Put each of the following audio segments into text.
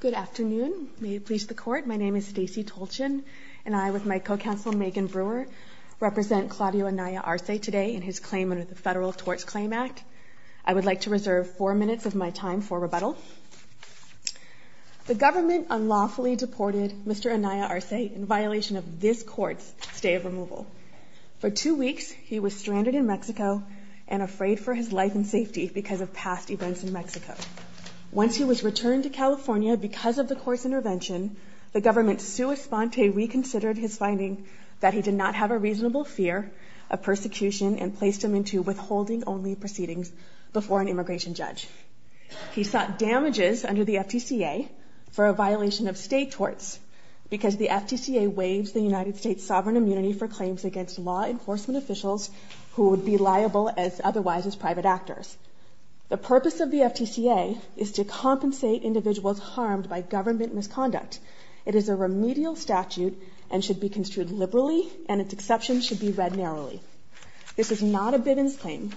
Good afternoon. May it please the court. My name is Stacy Tolchin, and I, with my co-counsel Megan Brewer, represent Claudio Anaya Arce today in his claim under the Federal Torts Claim Act. I would like to reserve four minutes of my time for rebuttal. The government unlawfully deported Mr. Anaya Arce in violation of this court's stay of removal. For two weeks, he was stranded in Mexico and afraid for his life and safety because of past events in Mexico. Once he was returned to California because of the court's intervention, the government sui sponte reconsidered his finding that he did not have a reasonable fear of persecution and placed him into withholding-only proceedings before an immigration judge. He sought damages under the FTCA for a violation of state torts because the FTCA waives the United States' sovereign immunity for claims against law enforcement officials who would be liable as otherwise as private actors. The purpose of the FTCA is to compensate individuals harmed by government misconduct. It is a remedial statute and should be construed liberally, and its exceptions should be read narrowly. This is not a Bivens claim.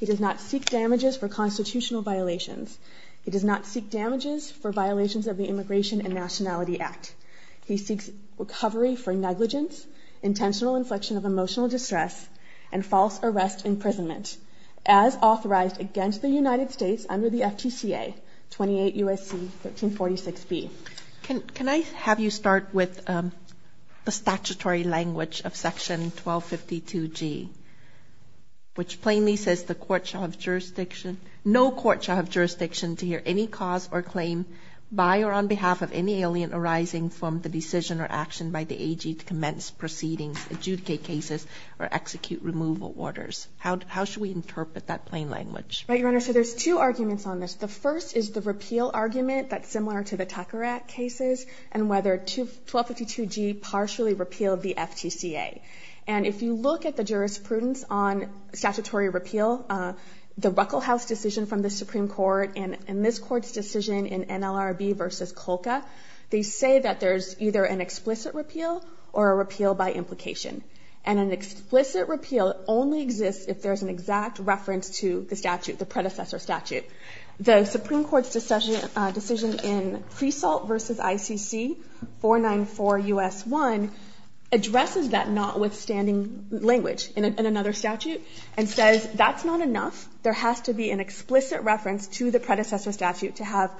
He does not seek damages for constitutional violations. He does not seek damages for violations of the Immigration and Nationality Act. He seeks recovery for negligence, intentional inflection of emotional distress, and false arrest imprisonment, as authorized against the United States under the FTCA, 28 U.S.C. 1346B. Can I have you start with the statutory language of Section 1252G, which plainly says, No court shall have jurisdiction to hear any cause or claim by or on behalf of any alien arising from the decision or action by the AG to commence proceedings, adjudicate cases, or execute removal orders. How should we interpret that plain language? Right, Your Honor, so there's two arguments on this. The first is the repeal argument that's similar to the Tucker Act cases and whether 1252G partially repealed the FTCA. And if you look at the jurisprudence on statutory repeal, the Ruckelhaus decision from the Supreme Court and this Court's decision in NLRB v. Colca, they say that there's either an explicit repeal or a repeal by implication. And an explicit repeal only exists if there's an exact reference to the statute, the predecessor statute. The Supreme Court's decision in Fresalt v. ICC 494 U.S. 1 addresses that notwithstanding language in another statute and says that's not enough. There has to be an explicit reference to the predecessor statute to have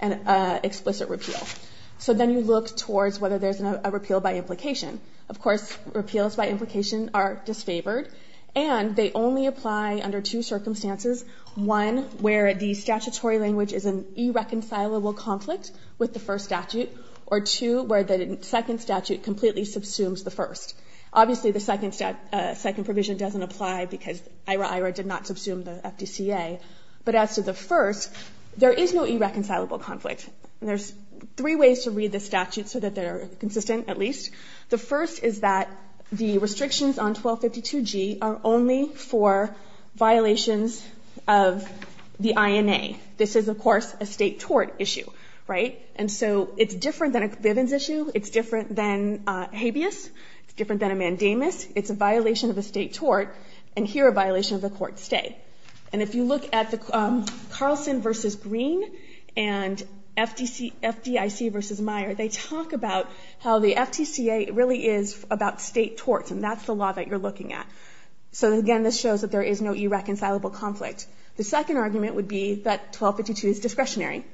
an explicit repeal. So then you look towards whether there's a repeal by implication. Of course, repeals by implication are disfavored, and they only apply under two circumstances, one, where the statutory language is an irreconcilable conflict with the first statute, or two, where the second statute completely subsumes the first. Obviously, the second provision doesn't apply because IRA-IRA did not subsume the FTCA. But as to the first, there is no irreconcilable conflict. And there's three ways to read the statute so that they're consistent at least. The first is that the restrictions on 1252G are only for violations of the INA. This is, of course, a State tort issue, right? And so it's different than a Bivens issue. It's different than habeas. It's different than a mandamus. It's a violation of a State tort, and here a violation of the court stay. And if you look at the Carlson v. Green and FDIC v. Meyer, they talk about how the FTCA really is about State torts, and that's the law that you're looking at. So, again, this shows that there is no irreconcilable conflict. The second argument would be that 1252 is discretionary.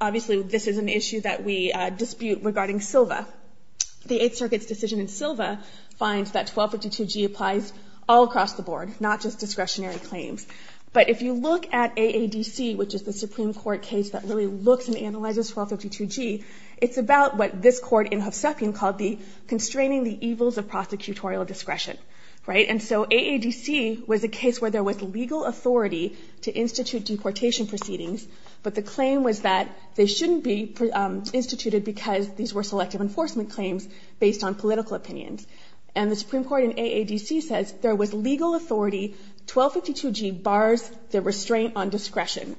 Obviously, this is an issue that we dispute regarding Silva. The Eighth Circuit's decision in Silva finds that 1252G applies all across the board, not just discretionary claims. But if you look at AADC, which is the Supreme Court case that really looks and analyzes 1252G, it's about what this court in Hovsepian called the constraining the evils of prosecutorial discretion, right? And so AADC was a case where there was legal authority to institute deportation proceedings, but the claim was that they shouldn't be instituted because these were selective enforcement claims based on political opinions. And the Supreme Court in AADC says there was legal authority. 1252G bars the restraint on discretion.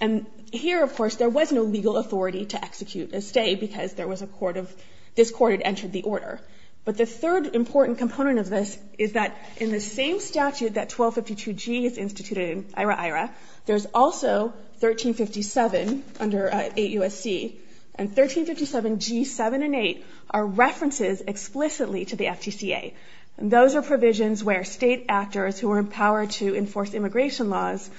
And here, of course, there was no legal authority to execute a stay because there was a court of this court had entered the order. But the third important component of this is that in the same statute that 1252G is 1357 under 8 U.S.C., and 1357G7 and 8 are references explicitly to the FTCA. And those are provisions where state actors who are empowered to enforce immigration laws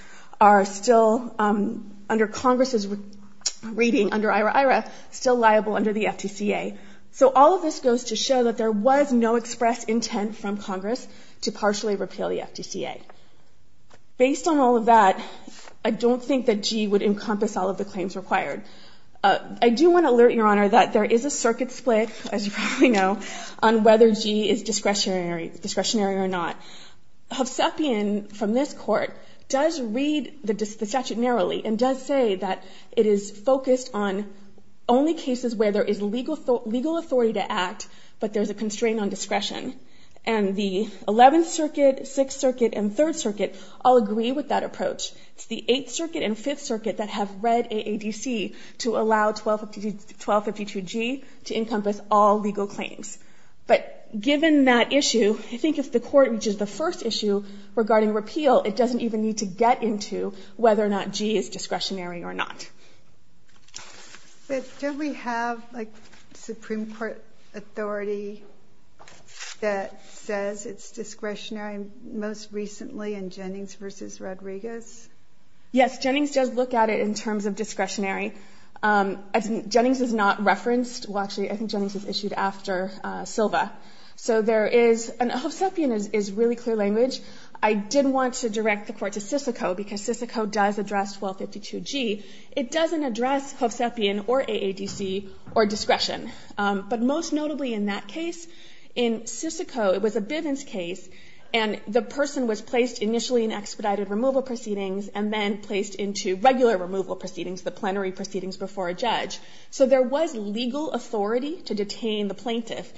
are still, under Congress's reading under IRA-IRA, still liable under the FTCA. So all of this goes to show that there was no express intent from Congress to partially repeal the FTCA. Based on all of that, I don't think that G would encompass all of the claims required. I do want to alert, Your Honor, that there is a circuit split, as you probably know, on whether G is discretionary or not. Hovsepian, from this court, does read the statute narrowly and does say that it is focused on only cases where there is legal authority to act, but there's a constraint on discretion. And the 11th Circuit, 6th Circuit, and 3rd Circuit all agree with that approach. It's the 8th Circuit and 5th Circuit that have read AADC to allow 1252G to encompass all legal claims. But given that issue, I think if the Court reaches the first issue regarding repeal, it doesn't even need to get into whether or not G is discretionary or not. But don't we have, like, a Supreme Court authority that says it's discretionary most recently in Jennings v. Rodriguez? Yes. Jennings does look at it in terms of discretionary. Jennings is not referenced. Well, actually, I think Jennings is issued after Silva. So there is an Hovsepian is really clear language. I did want to direct the Court to Sysico because Sysico does address 1252G. It doesn't address Hovsepian or AADC or discretion. But most notably in that case, in Sysico, it was a Bivens case, and the person was placed initially in expedited removal proceedings and then placed into regular removal proceedings, the plenary proceedings before a judge. So there was legal authority to detain the plaintiff.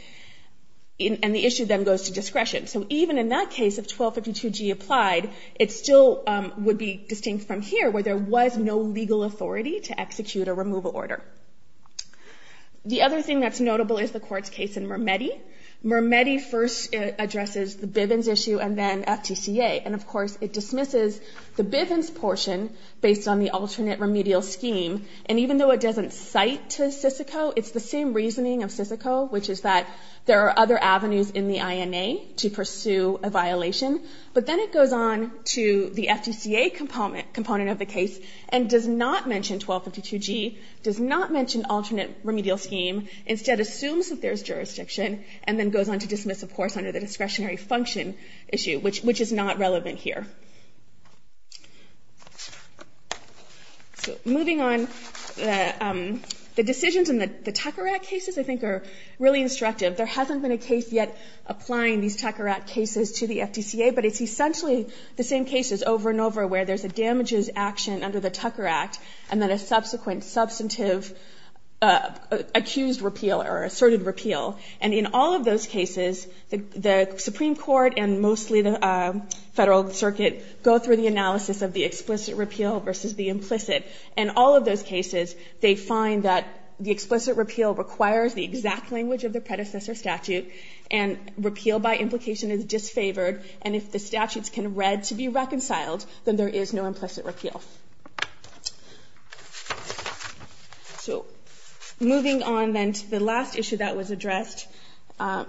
And the issue then goes to discretion. So even in that case, if 1252G applied, it still would be distinct from here where there was no legal authority to execute a removal order. The other thing that's notable is the Court's case in Mermetti. Mermetti first addresses the Bivens issue and then FTCA. And, of course, it dismisses the Bivens portion based on the alternate remedial scheme. And even though it doesn't cite to Sysico, it's the same reasoning of Sysico, which is that there are other avenues in the INA to pursue a violation. But then it goes on to the FTCA component of the case and does not mention 1252G, does not mention alternate remedial scheme, instead assumes that there is jurisdiction, and then goes on to dismiss, of course, under the discretionary function issue, which is not relevant here. So moving on, the decisions in the Takarat cases, I think, are really instructive. There hasn't been a case yet applying these Takarat cases to the FTCA, but it's essentially the same cases over and over where there's a damages action under the Takarat and then a subsequent substantive accused repeal or asserted repeal. And in all of those cases, the Supreme Court and mostly the Federal Circuit go through the analysis of the explicit repeal versus the implicit. In all of those cases, they find that the explicit repeal requires the exact language of the predecessor statute, and repeal by implication is disfavored, and if the statutes can read to be reconciled, then there is no implicit repeal. So moving on, then, to the last issue that was addressed,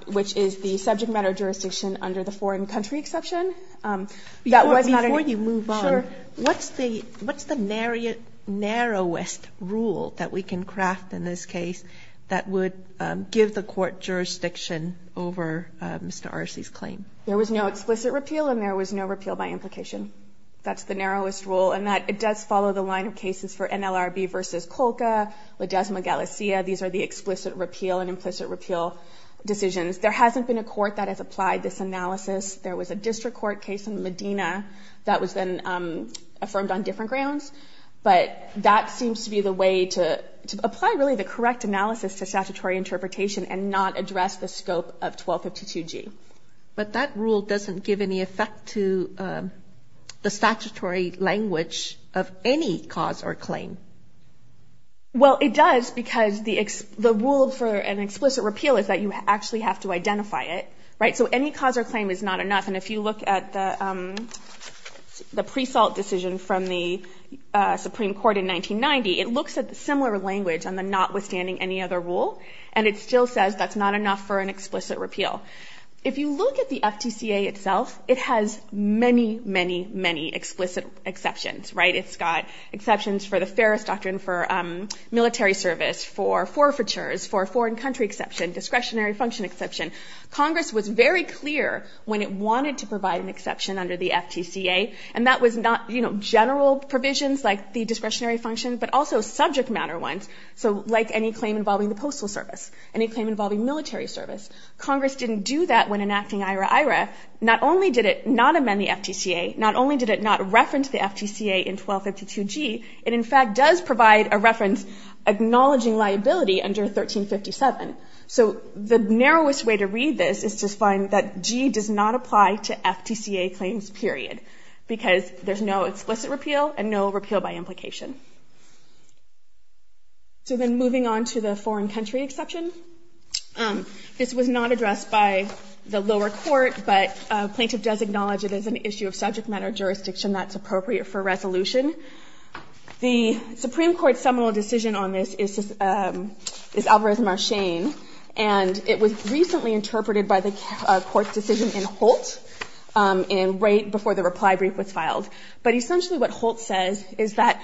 which is the subject matter jurisdiction under the foreign country exception. That was not an issue. Sotomayor, before you move on, what's the narrowest rule that we can craft in this case that would give the court jurisdiction over Mr. Arce's claim? There was no explicit repeal and there was no repeal by implication. That's the narrowest rule. And it does follow the line of cases for NLRB v. Colca, Ledezma-Galicia. These are the explicit repeal and implicit repeal decisions. There hasn't been a court that has applied this analysis. There was a district court case in Medina that was then affirmed on different to statutory interpretation and not address the scope of 1252G. But that rule doesn't give any effect to the statutory language of any cause or claim. Well, it does because the rule for an explicit repeal is that you actually have to identify it, right? So any cause or claim is not enough. And if you look at the pre-salt decision from the Supreme Court in 1990, it looks similar language on the notwithstanding any other rule. And it still says that's not enough for an explicit repeal. If you look at the FTCA itself, it has many, many, many explicit exceptions, right? It's got exceptions for the fairest doctrine for military service, for forfeitures, for foreign country exception, discretionary function exception. Congress was very clear when it wanted to provide an exception under the FTCA. And that was not, you know, general provisions like the discretionary function, but also subject matter ones. So like any claim involving the postal service, any claim involving military service. Congress didn't do that when enacting IRA-IRA. Not only did it not amend the FTCA, not only did it not reference the FTCA in 1252G, it in fact does provide a reference acknowledging liability under 1357. So the narrowest way to read this is to find that G does not apply to FTCA claims, period, because there's no explicit repeal and no repeal by implication. So then moving on to the foreign country exception. This was not addressed by the lower court, but a plaintiff does acknowledge it as an issue of subject matter jurisdiction that's appropriate for resolution. The Supreme Court's seminal decision on this is Alvarez-Marchain, and it was recently interpreted by the court's decision in Holt right before the reply brief was filed. But essentially what Holt says is that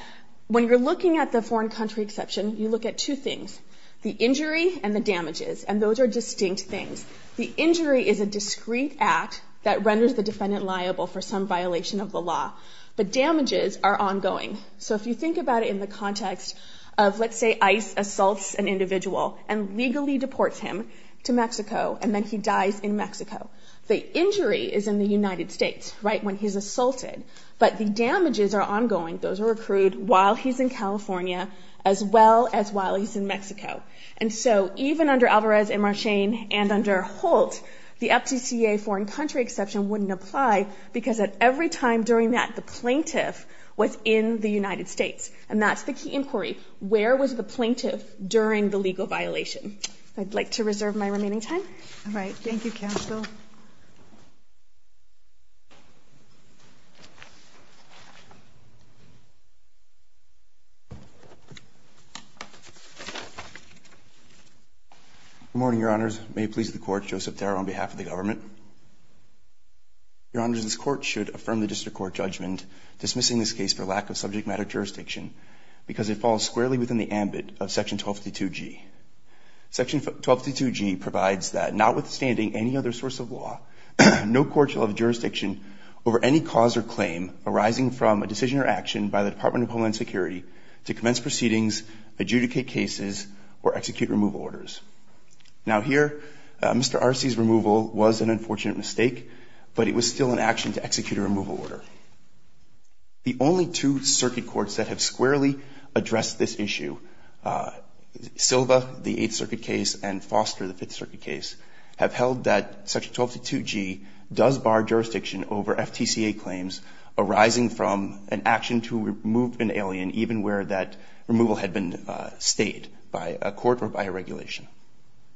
when you're looking at the foreign country exception, you look at two things, the injury and the damages. And those are distinct things. The injury is a discrete act that renders the defendant liable for some violation of the law. But damages are ongoing. So if you think about it in the context of, let's say, ICE assaults an individual and legally deports him to Mexico and then he dies in Mexico, the injury is in the United States, right, when he's assaulted. But the damages are ongoing, those are accrued while he's in California as well as while he's in Mexico. And so even under Alvarez-Marchain and under Holt, the FTCA foreign country exception wouldn't apply because at every time during that, the plaintiff was in the United States. And that's the key inquiry. Where was the plaintiff during the legal violation? I'd like to reserve my remaining time. All right. Thank you, counsel. Good morning, Your Honors. May it please the Court, Joseph Tarr on behalf of the government. Your Honors, this Court should affirm the district court judgment dismissing this case for lack of subject matter jurisdiction because it falls squarely within the ambit of Section 1252G. Section 1252G provides that notwithstanding any other source of law, no court shall have jurisdiction over any cause or claim arising from a decision or action by the Department of Homeland Security to commence proceedings, adjudicate cases, or execute removal orders. Now here, Mr. Arce's removal was an unfortunate mistake, but it was still an action to execute a removal order. The only two circuit courts that have squarely addressed this issue, Silva, the Eighth Circuit case, and Foster, the Fifth Circuit case, have held that Section 1252G does bar jurisdiction over FTCA claims arising from an action to remove an alien even where that removal had been stated by a court or by a regulation.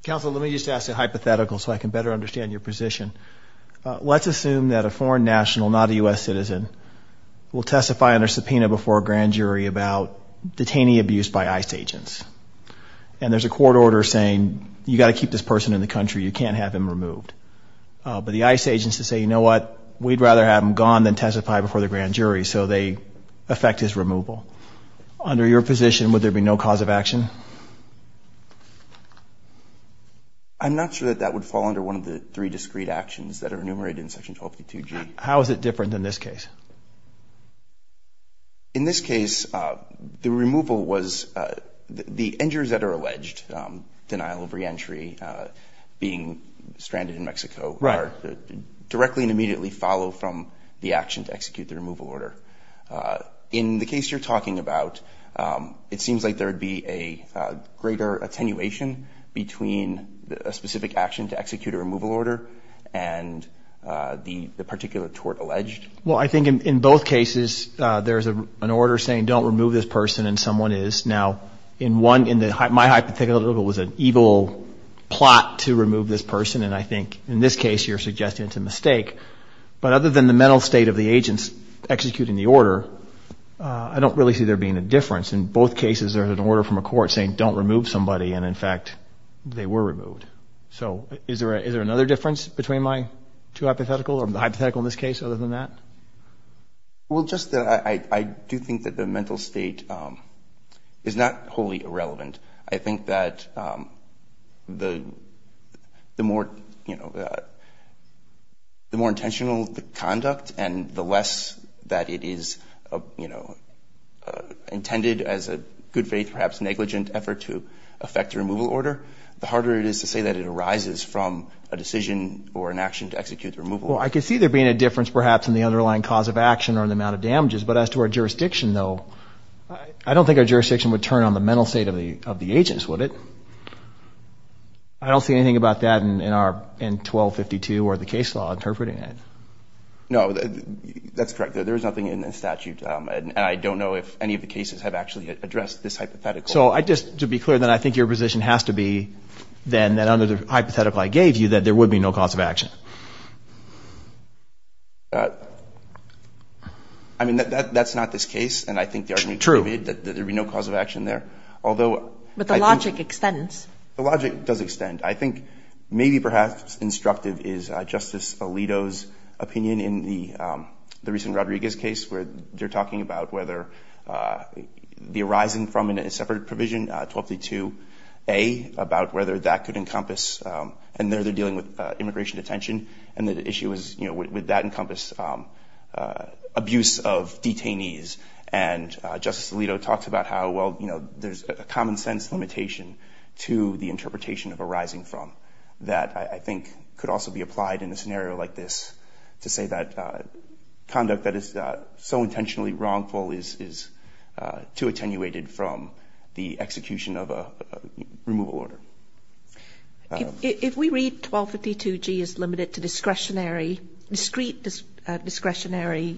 Counsel, let me just ask a hypothetical so I can better understand your position. Let's assume that a foreign national, not a U.S. citizen, will testify under subpoena before a grand jury about detaining abuse by ICE agents, and there's a court order saying you've got to keep this person in the country, you can't have him removed. But the ICE agents say, you know what, we'd rather have him gone than testify before the grand jury, so they affect his removal. Under your position, would there be no cause of action? I'm not sure that that would fall under one of the three discrete actions that are enumerated in Section 1252G. How is it different in this case? In this case, the removal was the injuries that are alleged, denial of reentry, being stranded in Mexico, are directly and immediately followed from the action to execute the removal order. In the case you're talking about, it seems like there would be a, greater attenuation between a specific action to execute a removal order and the particular tort alleged. Well, I think in both cases there's an order saying don't remove this person, and someone is. Now, in one, in my hypothetical, it was an evil plot to remove this person, and I think in this case you're suggesting it's a mistake. But other than the mental state of the agents executing the order, I don't really see there being a difference. In both cases there's an order from a court saying don't remove somebody, and, in fact, they were removed. So is there another difference between my two hypotheticals, or the hypothetical in this case other than that? Well, just that I do think that the mental state is not wholly irrelevant. I think that the more intentional the conduct and the less that it is, you know, intended as a good faith, perhaps negligent effort to affect the removal order, the harder it is to say that it arises from a decision or an action to execute the removal order. Well, I could see there being a difference, perhaps, in the underlying cause of action or in the amount of damages. But as to our jurisdiction, though, I don't think our jurisdiction would turn on the mental state of the agents, would it? I don't see anything about that in 1252 or the case law interpreting it. No. That's correct. There is nothing in the statute. And I don't know if any of the cases have actually addressed this hypothetical. So I just, to be clear, then I think your position has to be then that under the hypothetical I gave you that there would be no cause of action. I mean, that's not this case. And I think the argument is that there would be no cause of action there. True. But the logic extends. The logic does extend. And I think maybe perhaps instructive is Justice Alito's opinion in the recent Rodriguez case where they're talking about whether the arising from a separate provision, 1232A, about whether that could encompass, and there they're dealing with immigration detention, and the issue is would that encompass abuse of detainees. And Justice Alito talks about how, well, there's a common sense limitation to the interpretation of arising from that I think could also be applied in a scenario like this to say that conduct that is so intentionally wrongful is too attenuated from the execution of a removal order. If we read 1252G as limited to discretionary, discrete discretionary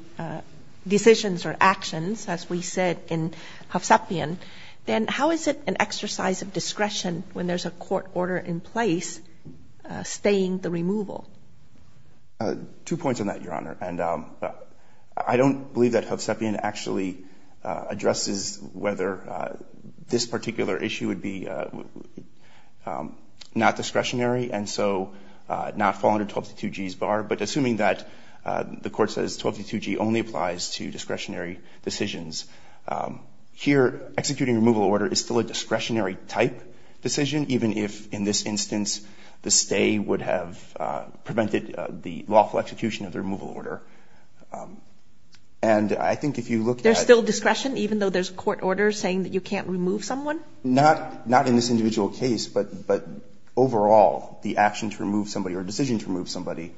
decisions or actions, as we said in Hovsepian, then how is it an exercise of discretion when there's a court order in place staying the removal? Two points on that, Your Honor. And I don't believe that Hovsepian actually addresses whether this particular issue would be not discretionary and so not fall under 1252G's bar. But assuming that the Court says 1252G only applies to discretionary decisions here, executing a removal order is still a discretionary type decision, even if in this instance the stay would have prevented the lawful execution of the removal order. And I think if you look at the. There's still discretion even though there's a court order saying that you can't remove someone? Not in this individual case, but overall the action to remove somebody or decision to remove somebody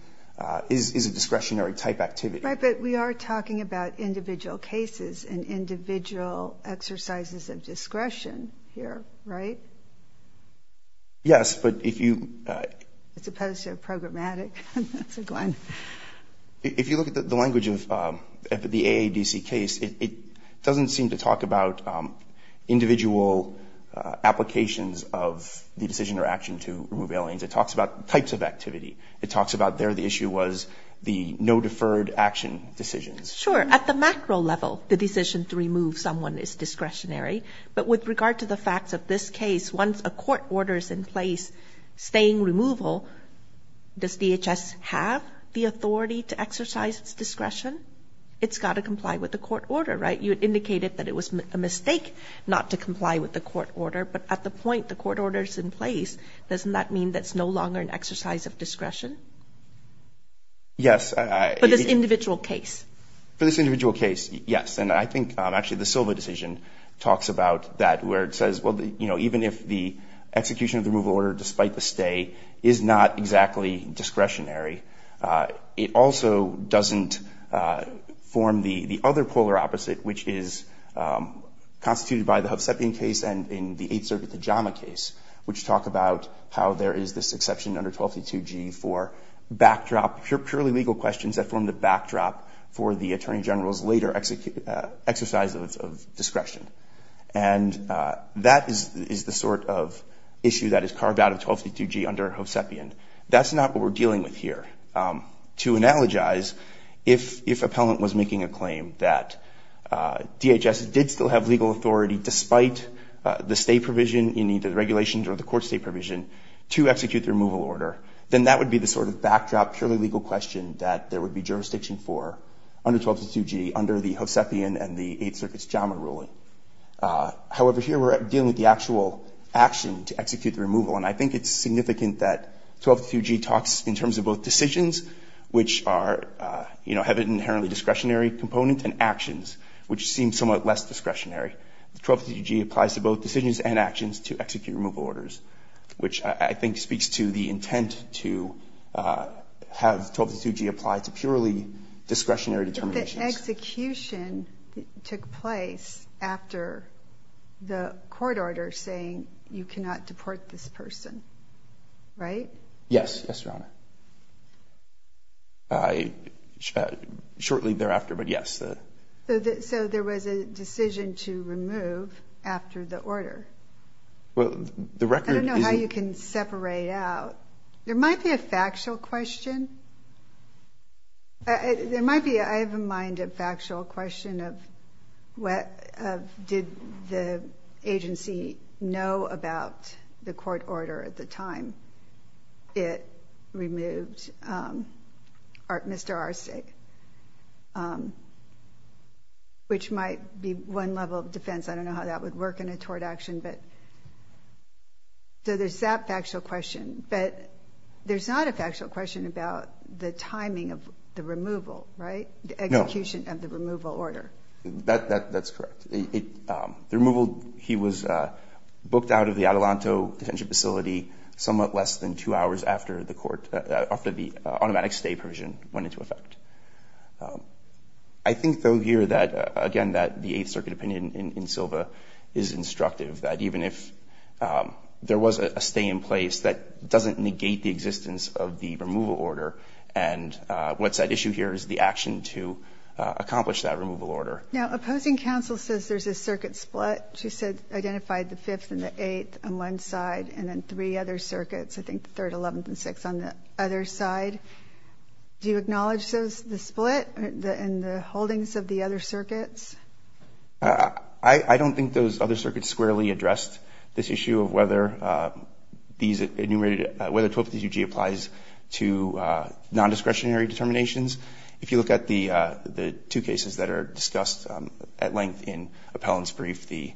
is a discretionary type activity. Right, but we are talking about individual cases and individual exercises of discretion here, right? Yes, but if you. As opposed to programmatic. Go on. If you look at the language of the AADC case, it doesn't seem to talk about individual applications of the decision or action to remove aliens. It talks about types of activity. It talks about there the issue was the no deferred action decisions. Sure. At the macro level, the decision to remove someone is discretionary. But with regard to the facts of this case, once a court order is in place staying removal, does DHS have the authority to exercise its discretion? It's got to comply with the court order, right? You indicated that it was a mistake not to comply with the court order, but at the point the court order is in place, doesn't that mean that's no longer an exercise of discretion? Yes. For this individual case. For this individual case, yes, and I think actually the Silva decision talks about that where it says, well, you know, even if the execution of the removal order despite the stay is not exactly discretionary, it also doesn't form the other polar opposite, which is constituted by the Hovsepian case and in the Eighth Section under 1232G for backdrop, purely legal questions that form the backdrop for the Attorney General's later exercise of discretion. And that is the sort of issue that is carved out of 1232G under Hovsepian. That's not what we're dealing with here. To analogize, if appellant was making a claim that DHS did still have legal authority despite the stay provision in either the regulations or the court stay provision to execute the removal order, then that would be the sort of backdrop purely legal question that there would be jurisdiction for under 1232G under the Hovsepian and the Eighth Circuit's JAMA ruling. However, here we're dealing with the actual action to execute the removal, and I think it's significant that 1232G talks in terms of both decisions, which are, you know, have an inherently discretionary component, and actions, which seem somewhat less discretionary. 1232G applies to both decisions and actions to execute removal orders, which I think speaks to the intent to have 1232G apply to purely discretionary determinations. But the execution took place after the court order saying you cannot deport this person, right? Yes. Yes, Your Honor. Shortly thereafter, but yes. So there was a decision to remove after the order. I don't know how you can separate out. There might be a factual question. There might be, I have in mind, a factual question of did the agency know about the court order at the time it removed Mr. Arsig, which might be one level of defense. I don't know how that would work in a tort action, but so there's that factual question, but there's not a factual question about the timing of the removal, right? No. The execution of the removal order. That's correct. The removal, he was booked out of the Adelanto detention facility somewhat less than two hours after the court, after the automatic stay provision went into effect. I think, though, here that, again, that the Eighth Circuit opinion in Silva is instructive, that even if there was a stay in place, that doesn't negate the existence of the removal order, and what's at issue here is the action to accomplish that removal order. Now, opposing counsel says there's a circuit split. She said, identified the Fifth and the Eighth on one side and then three other circuits, I think the Third, Eleventh, and Sixth on the other side. Do you acknowledge the split in the holdings of the other circuits? I don't think those other circuits squarely addressed this issue of whether these enumerated, whether 1232G applies to nondiscretionary determinations. If you look at the two cases that are discussed at length in Appellant's brief, the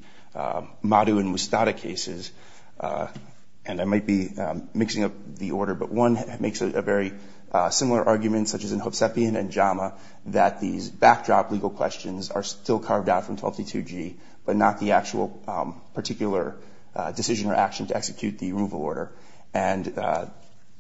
Madu and Mustada cases, and I might be mixing up the order, but one makes a very similar argument, such as in Hovsepian and Jama, that these backdrop legal questions are still carved out from 1232G, but not the actual particular decision or action to execute the removal order. And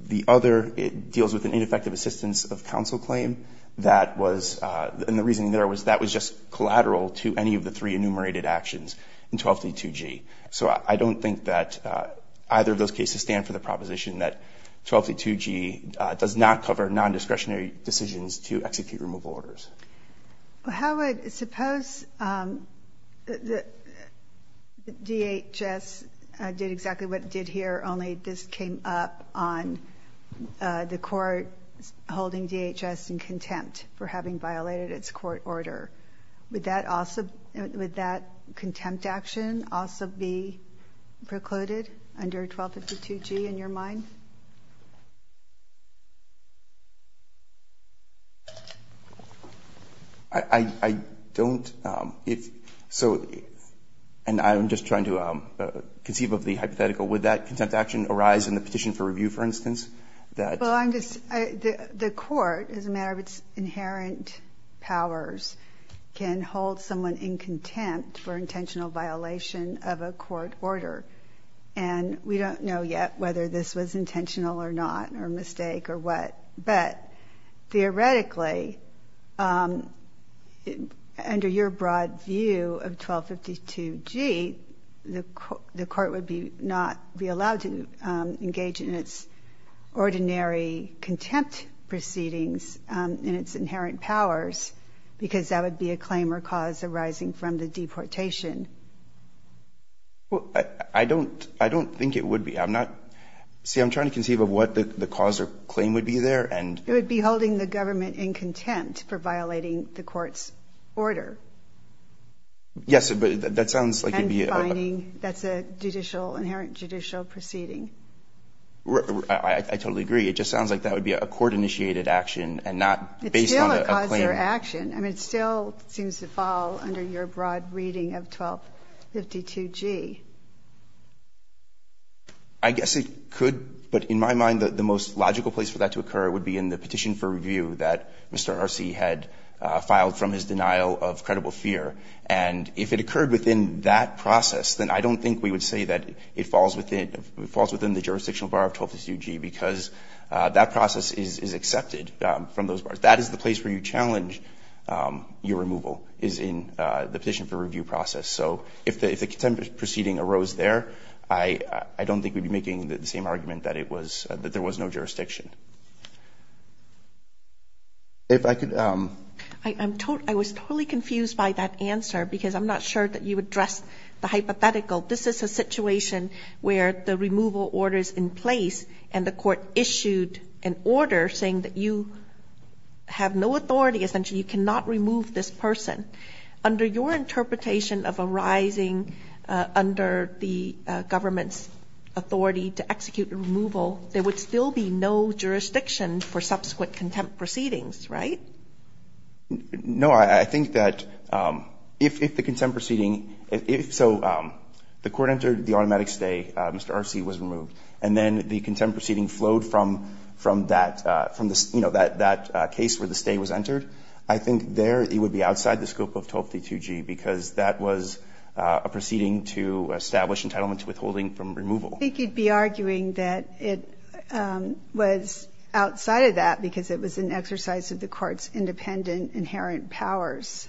the other, it deals with an ineffective assistance of counsel claim. That was, and the reasoning there was that was just collateral to any of the three enumerated actions in 1232G. So I don't think that either of those cases stand for the proposition that 1232G does not cover nondiscretionary decisions to execute removal orders. How would, suppose DHS did exactly what it did here, only this came up on the court holding DHS in contempt for having violated its court order. Would that contempt action also be precluded under 1232G in your mind? I don't, if, so, and I'm just trying to conceive of the hypothetical. Would that contempt action arise in the petition for review, for instance? That. Well, I'm just, the court, as a matter of its inherent powers, can hold someone in contempt for intentional violation of a court order. And we don't know yet whether this was intentional or not, or a mistake or what. But theoretically, under your broad view of 1252G, the court would not be allowed to engage in its ordinary contempt proceedings in its inherent powers, because that would be a claim or cause arising from the deportation. Well, I don't, I don't think it would be. I'm not, see, I'm trying to conceive of what the cause or claim would be there, and. It would be holding the government in contempt for violating the court's order. Yes, but that sounds like it would be. And defining, that's a judicial, inherent judicial proceeding. I totally agree. It just sounds like that would be a court-initiated action and not based on a claim. It's still a cause or action. I mean, it still seems to fall under your broad reading of 1252G. I guess it could. But in my mind, the most logical place for that to occur would be in the petition for review that Mr. Arce had filed from his denial of credible fear. And if it occurred within that process, then I don't think we would say that it falls within, falls within the jurisdictional bar of 1252G, because that process is accepted from those bars. That is the place where you challenge your removal, is in the petition for review process. So if the contempt proceeding arose there, I don't think we would be making the same argument that it was, that there was no jurisdiction. If I could. I'm totally, I was totally confused by that answer, because I'm not sure that you addressed the hypothetical. This is a situation where the removal order is in place, and the court issued an order saying that you have no authority, essentially you cannot remove this person. Under your interpretation of arising under the government's authority to execute a removal, there would still be no jurisdiction for subsequent contempt proceedings, right? No. I think that if the contempt proceeding, if so, the court entered the automatic stay, Mr. Arce was removed, and then the contempt proceeding flowed from that, from the scope of 1252G, because that was a proceeding to establish entitlement to withholding from removal. I think you'd be arguing that it was outside of that, because it was an exercise of the court's independent inherent powers.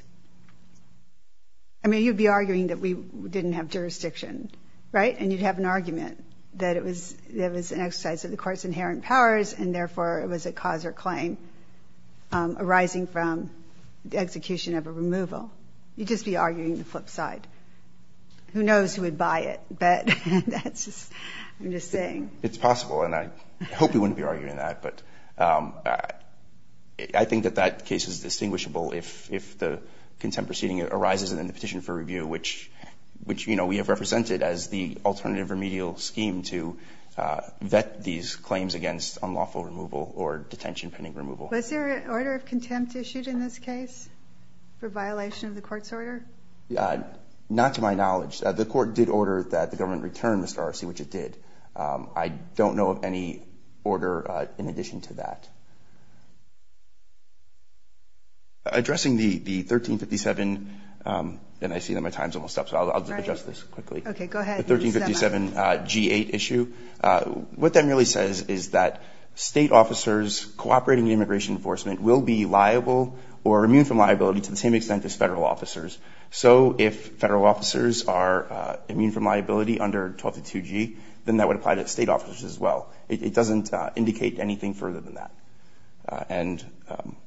I mean, you'd be arguing that we didn't have jurisdiction, right? And you'd have an argument that it was an exercise of the court's inherent powers, and therefore it was a cause or claim arising from the execution of a removal. You'd just be arguing the flip side. Who knows who would buy it, but that's just, I'm just saying. It's possible, and I hope we wouldn't be arguing that, but I think that that case is distinguishable if the contempt proceeding arises and then the petition for review, which, you know, we have represented as the alternative remedial scheme to vet these cases. I don't know of any other case in which there's been an awful removal or detention pending removal. Was there an order of contempt issued in this case for violation of the court's order? Not to my knowledge. The court did order that the government return, Mr. Arce, which it did. I don't know of any order in addition to that. Addressing the 1357, and I see that my time's almost up, so I'll just address this quickly. Okay. Go ahead. The 1357G8 issue, what that merely says is that state officers cooperating with immigration enforcement will be liable or immune from liability to the same extent as federal officers. So if federal officers are immune from liability under 1222G, then that would apply to state officers as well. It doesn't indicate anything further than that. And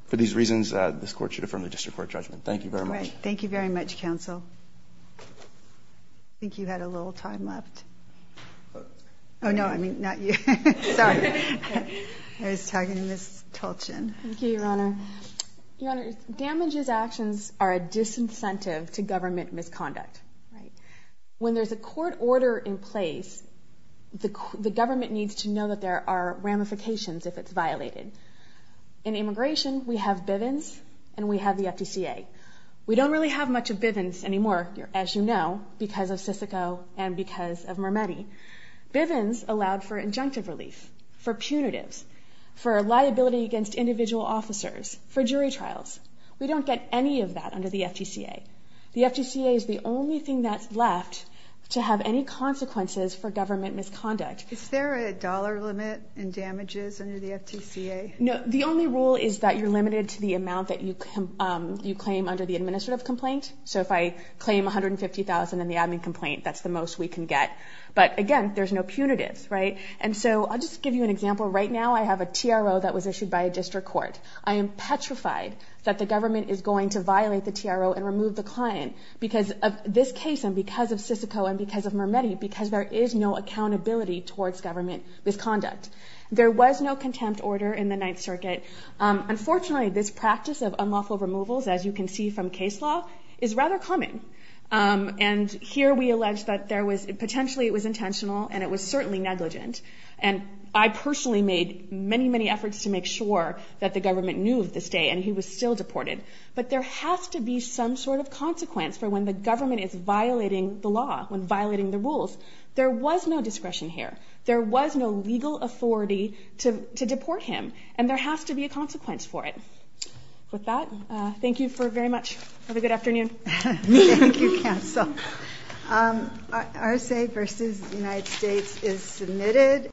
for these reasons, this court should affirm the district court judgment. Thank you very much. All right. Thank you very much, counsel. I think you had a little time left. Oh, no. I mean, not you. Sorry. I was talking to Ms. Tolchin. Thank you, Your Honor. Your Honor, damages actions are a disincentive to government misconduct. Right. When there's a court order in place, the government needs to know that there are ramifications if it's violated. In immigration, we have Bivens and we have the FDCA. We don't really have much of Bivens anymore, as you know, because of Sysico and because of Mermetti. Bivens allowed for injunctive relief, for punitives, for liability against individual officers, for jury trials. We don't get any of that under the FDCA. The FDCA is the only thing that's left to have any consequences for government misconduct. Is there a dollar limit in damages under the FDCA? No. The only rule is that you're limited to the amount that you claim under the administrative complaint. So if I claim $150,000 in the admin complaint, that's the most we can get. But, again, there's no punitives, right? And so I'll just give you an example. Right now, I have a TRO that was issued by a district court. I am petrified that the government is going to violate the TRO and remove the client because of this case and because of Sysico and because of Mermetti, because there is no accountability towards government misconduct. There was no contempt order in the Ninth Circuit. Unfortunately, this practice of unlawful removals, as you can see from case law, is rather common. And here we allege that there was – potentially it was intentional and it was certainly negligent. And I personally made many, many efforts to make sure that the government knew of this day, and he was still deported. But there has to be some sort of consequence for when the government is violating the law, when violating the rules. There was no discretion here. There was no legal authority to deport him. And there has to be a consequence for it. With that, thank you very much. Have a good afternoon. Thank you, counsel. RSA versus the United States is submitted.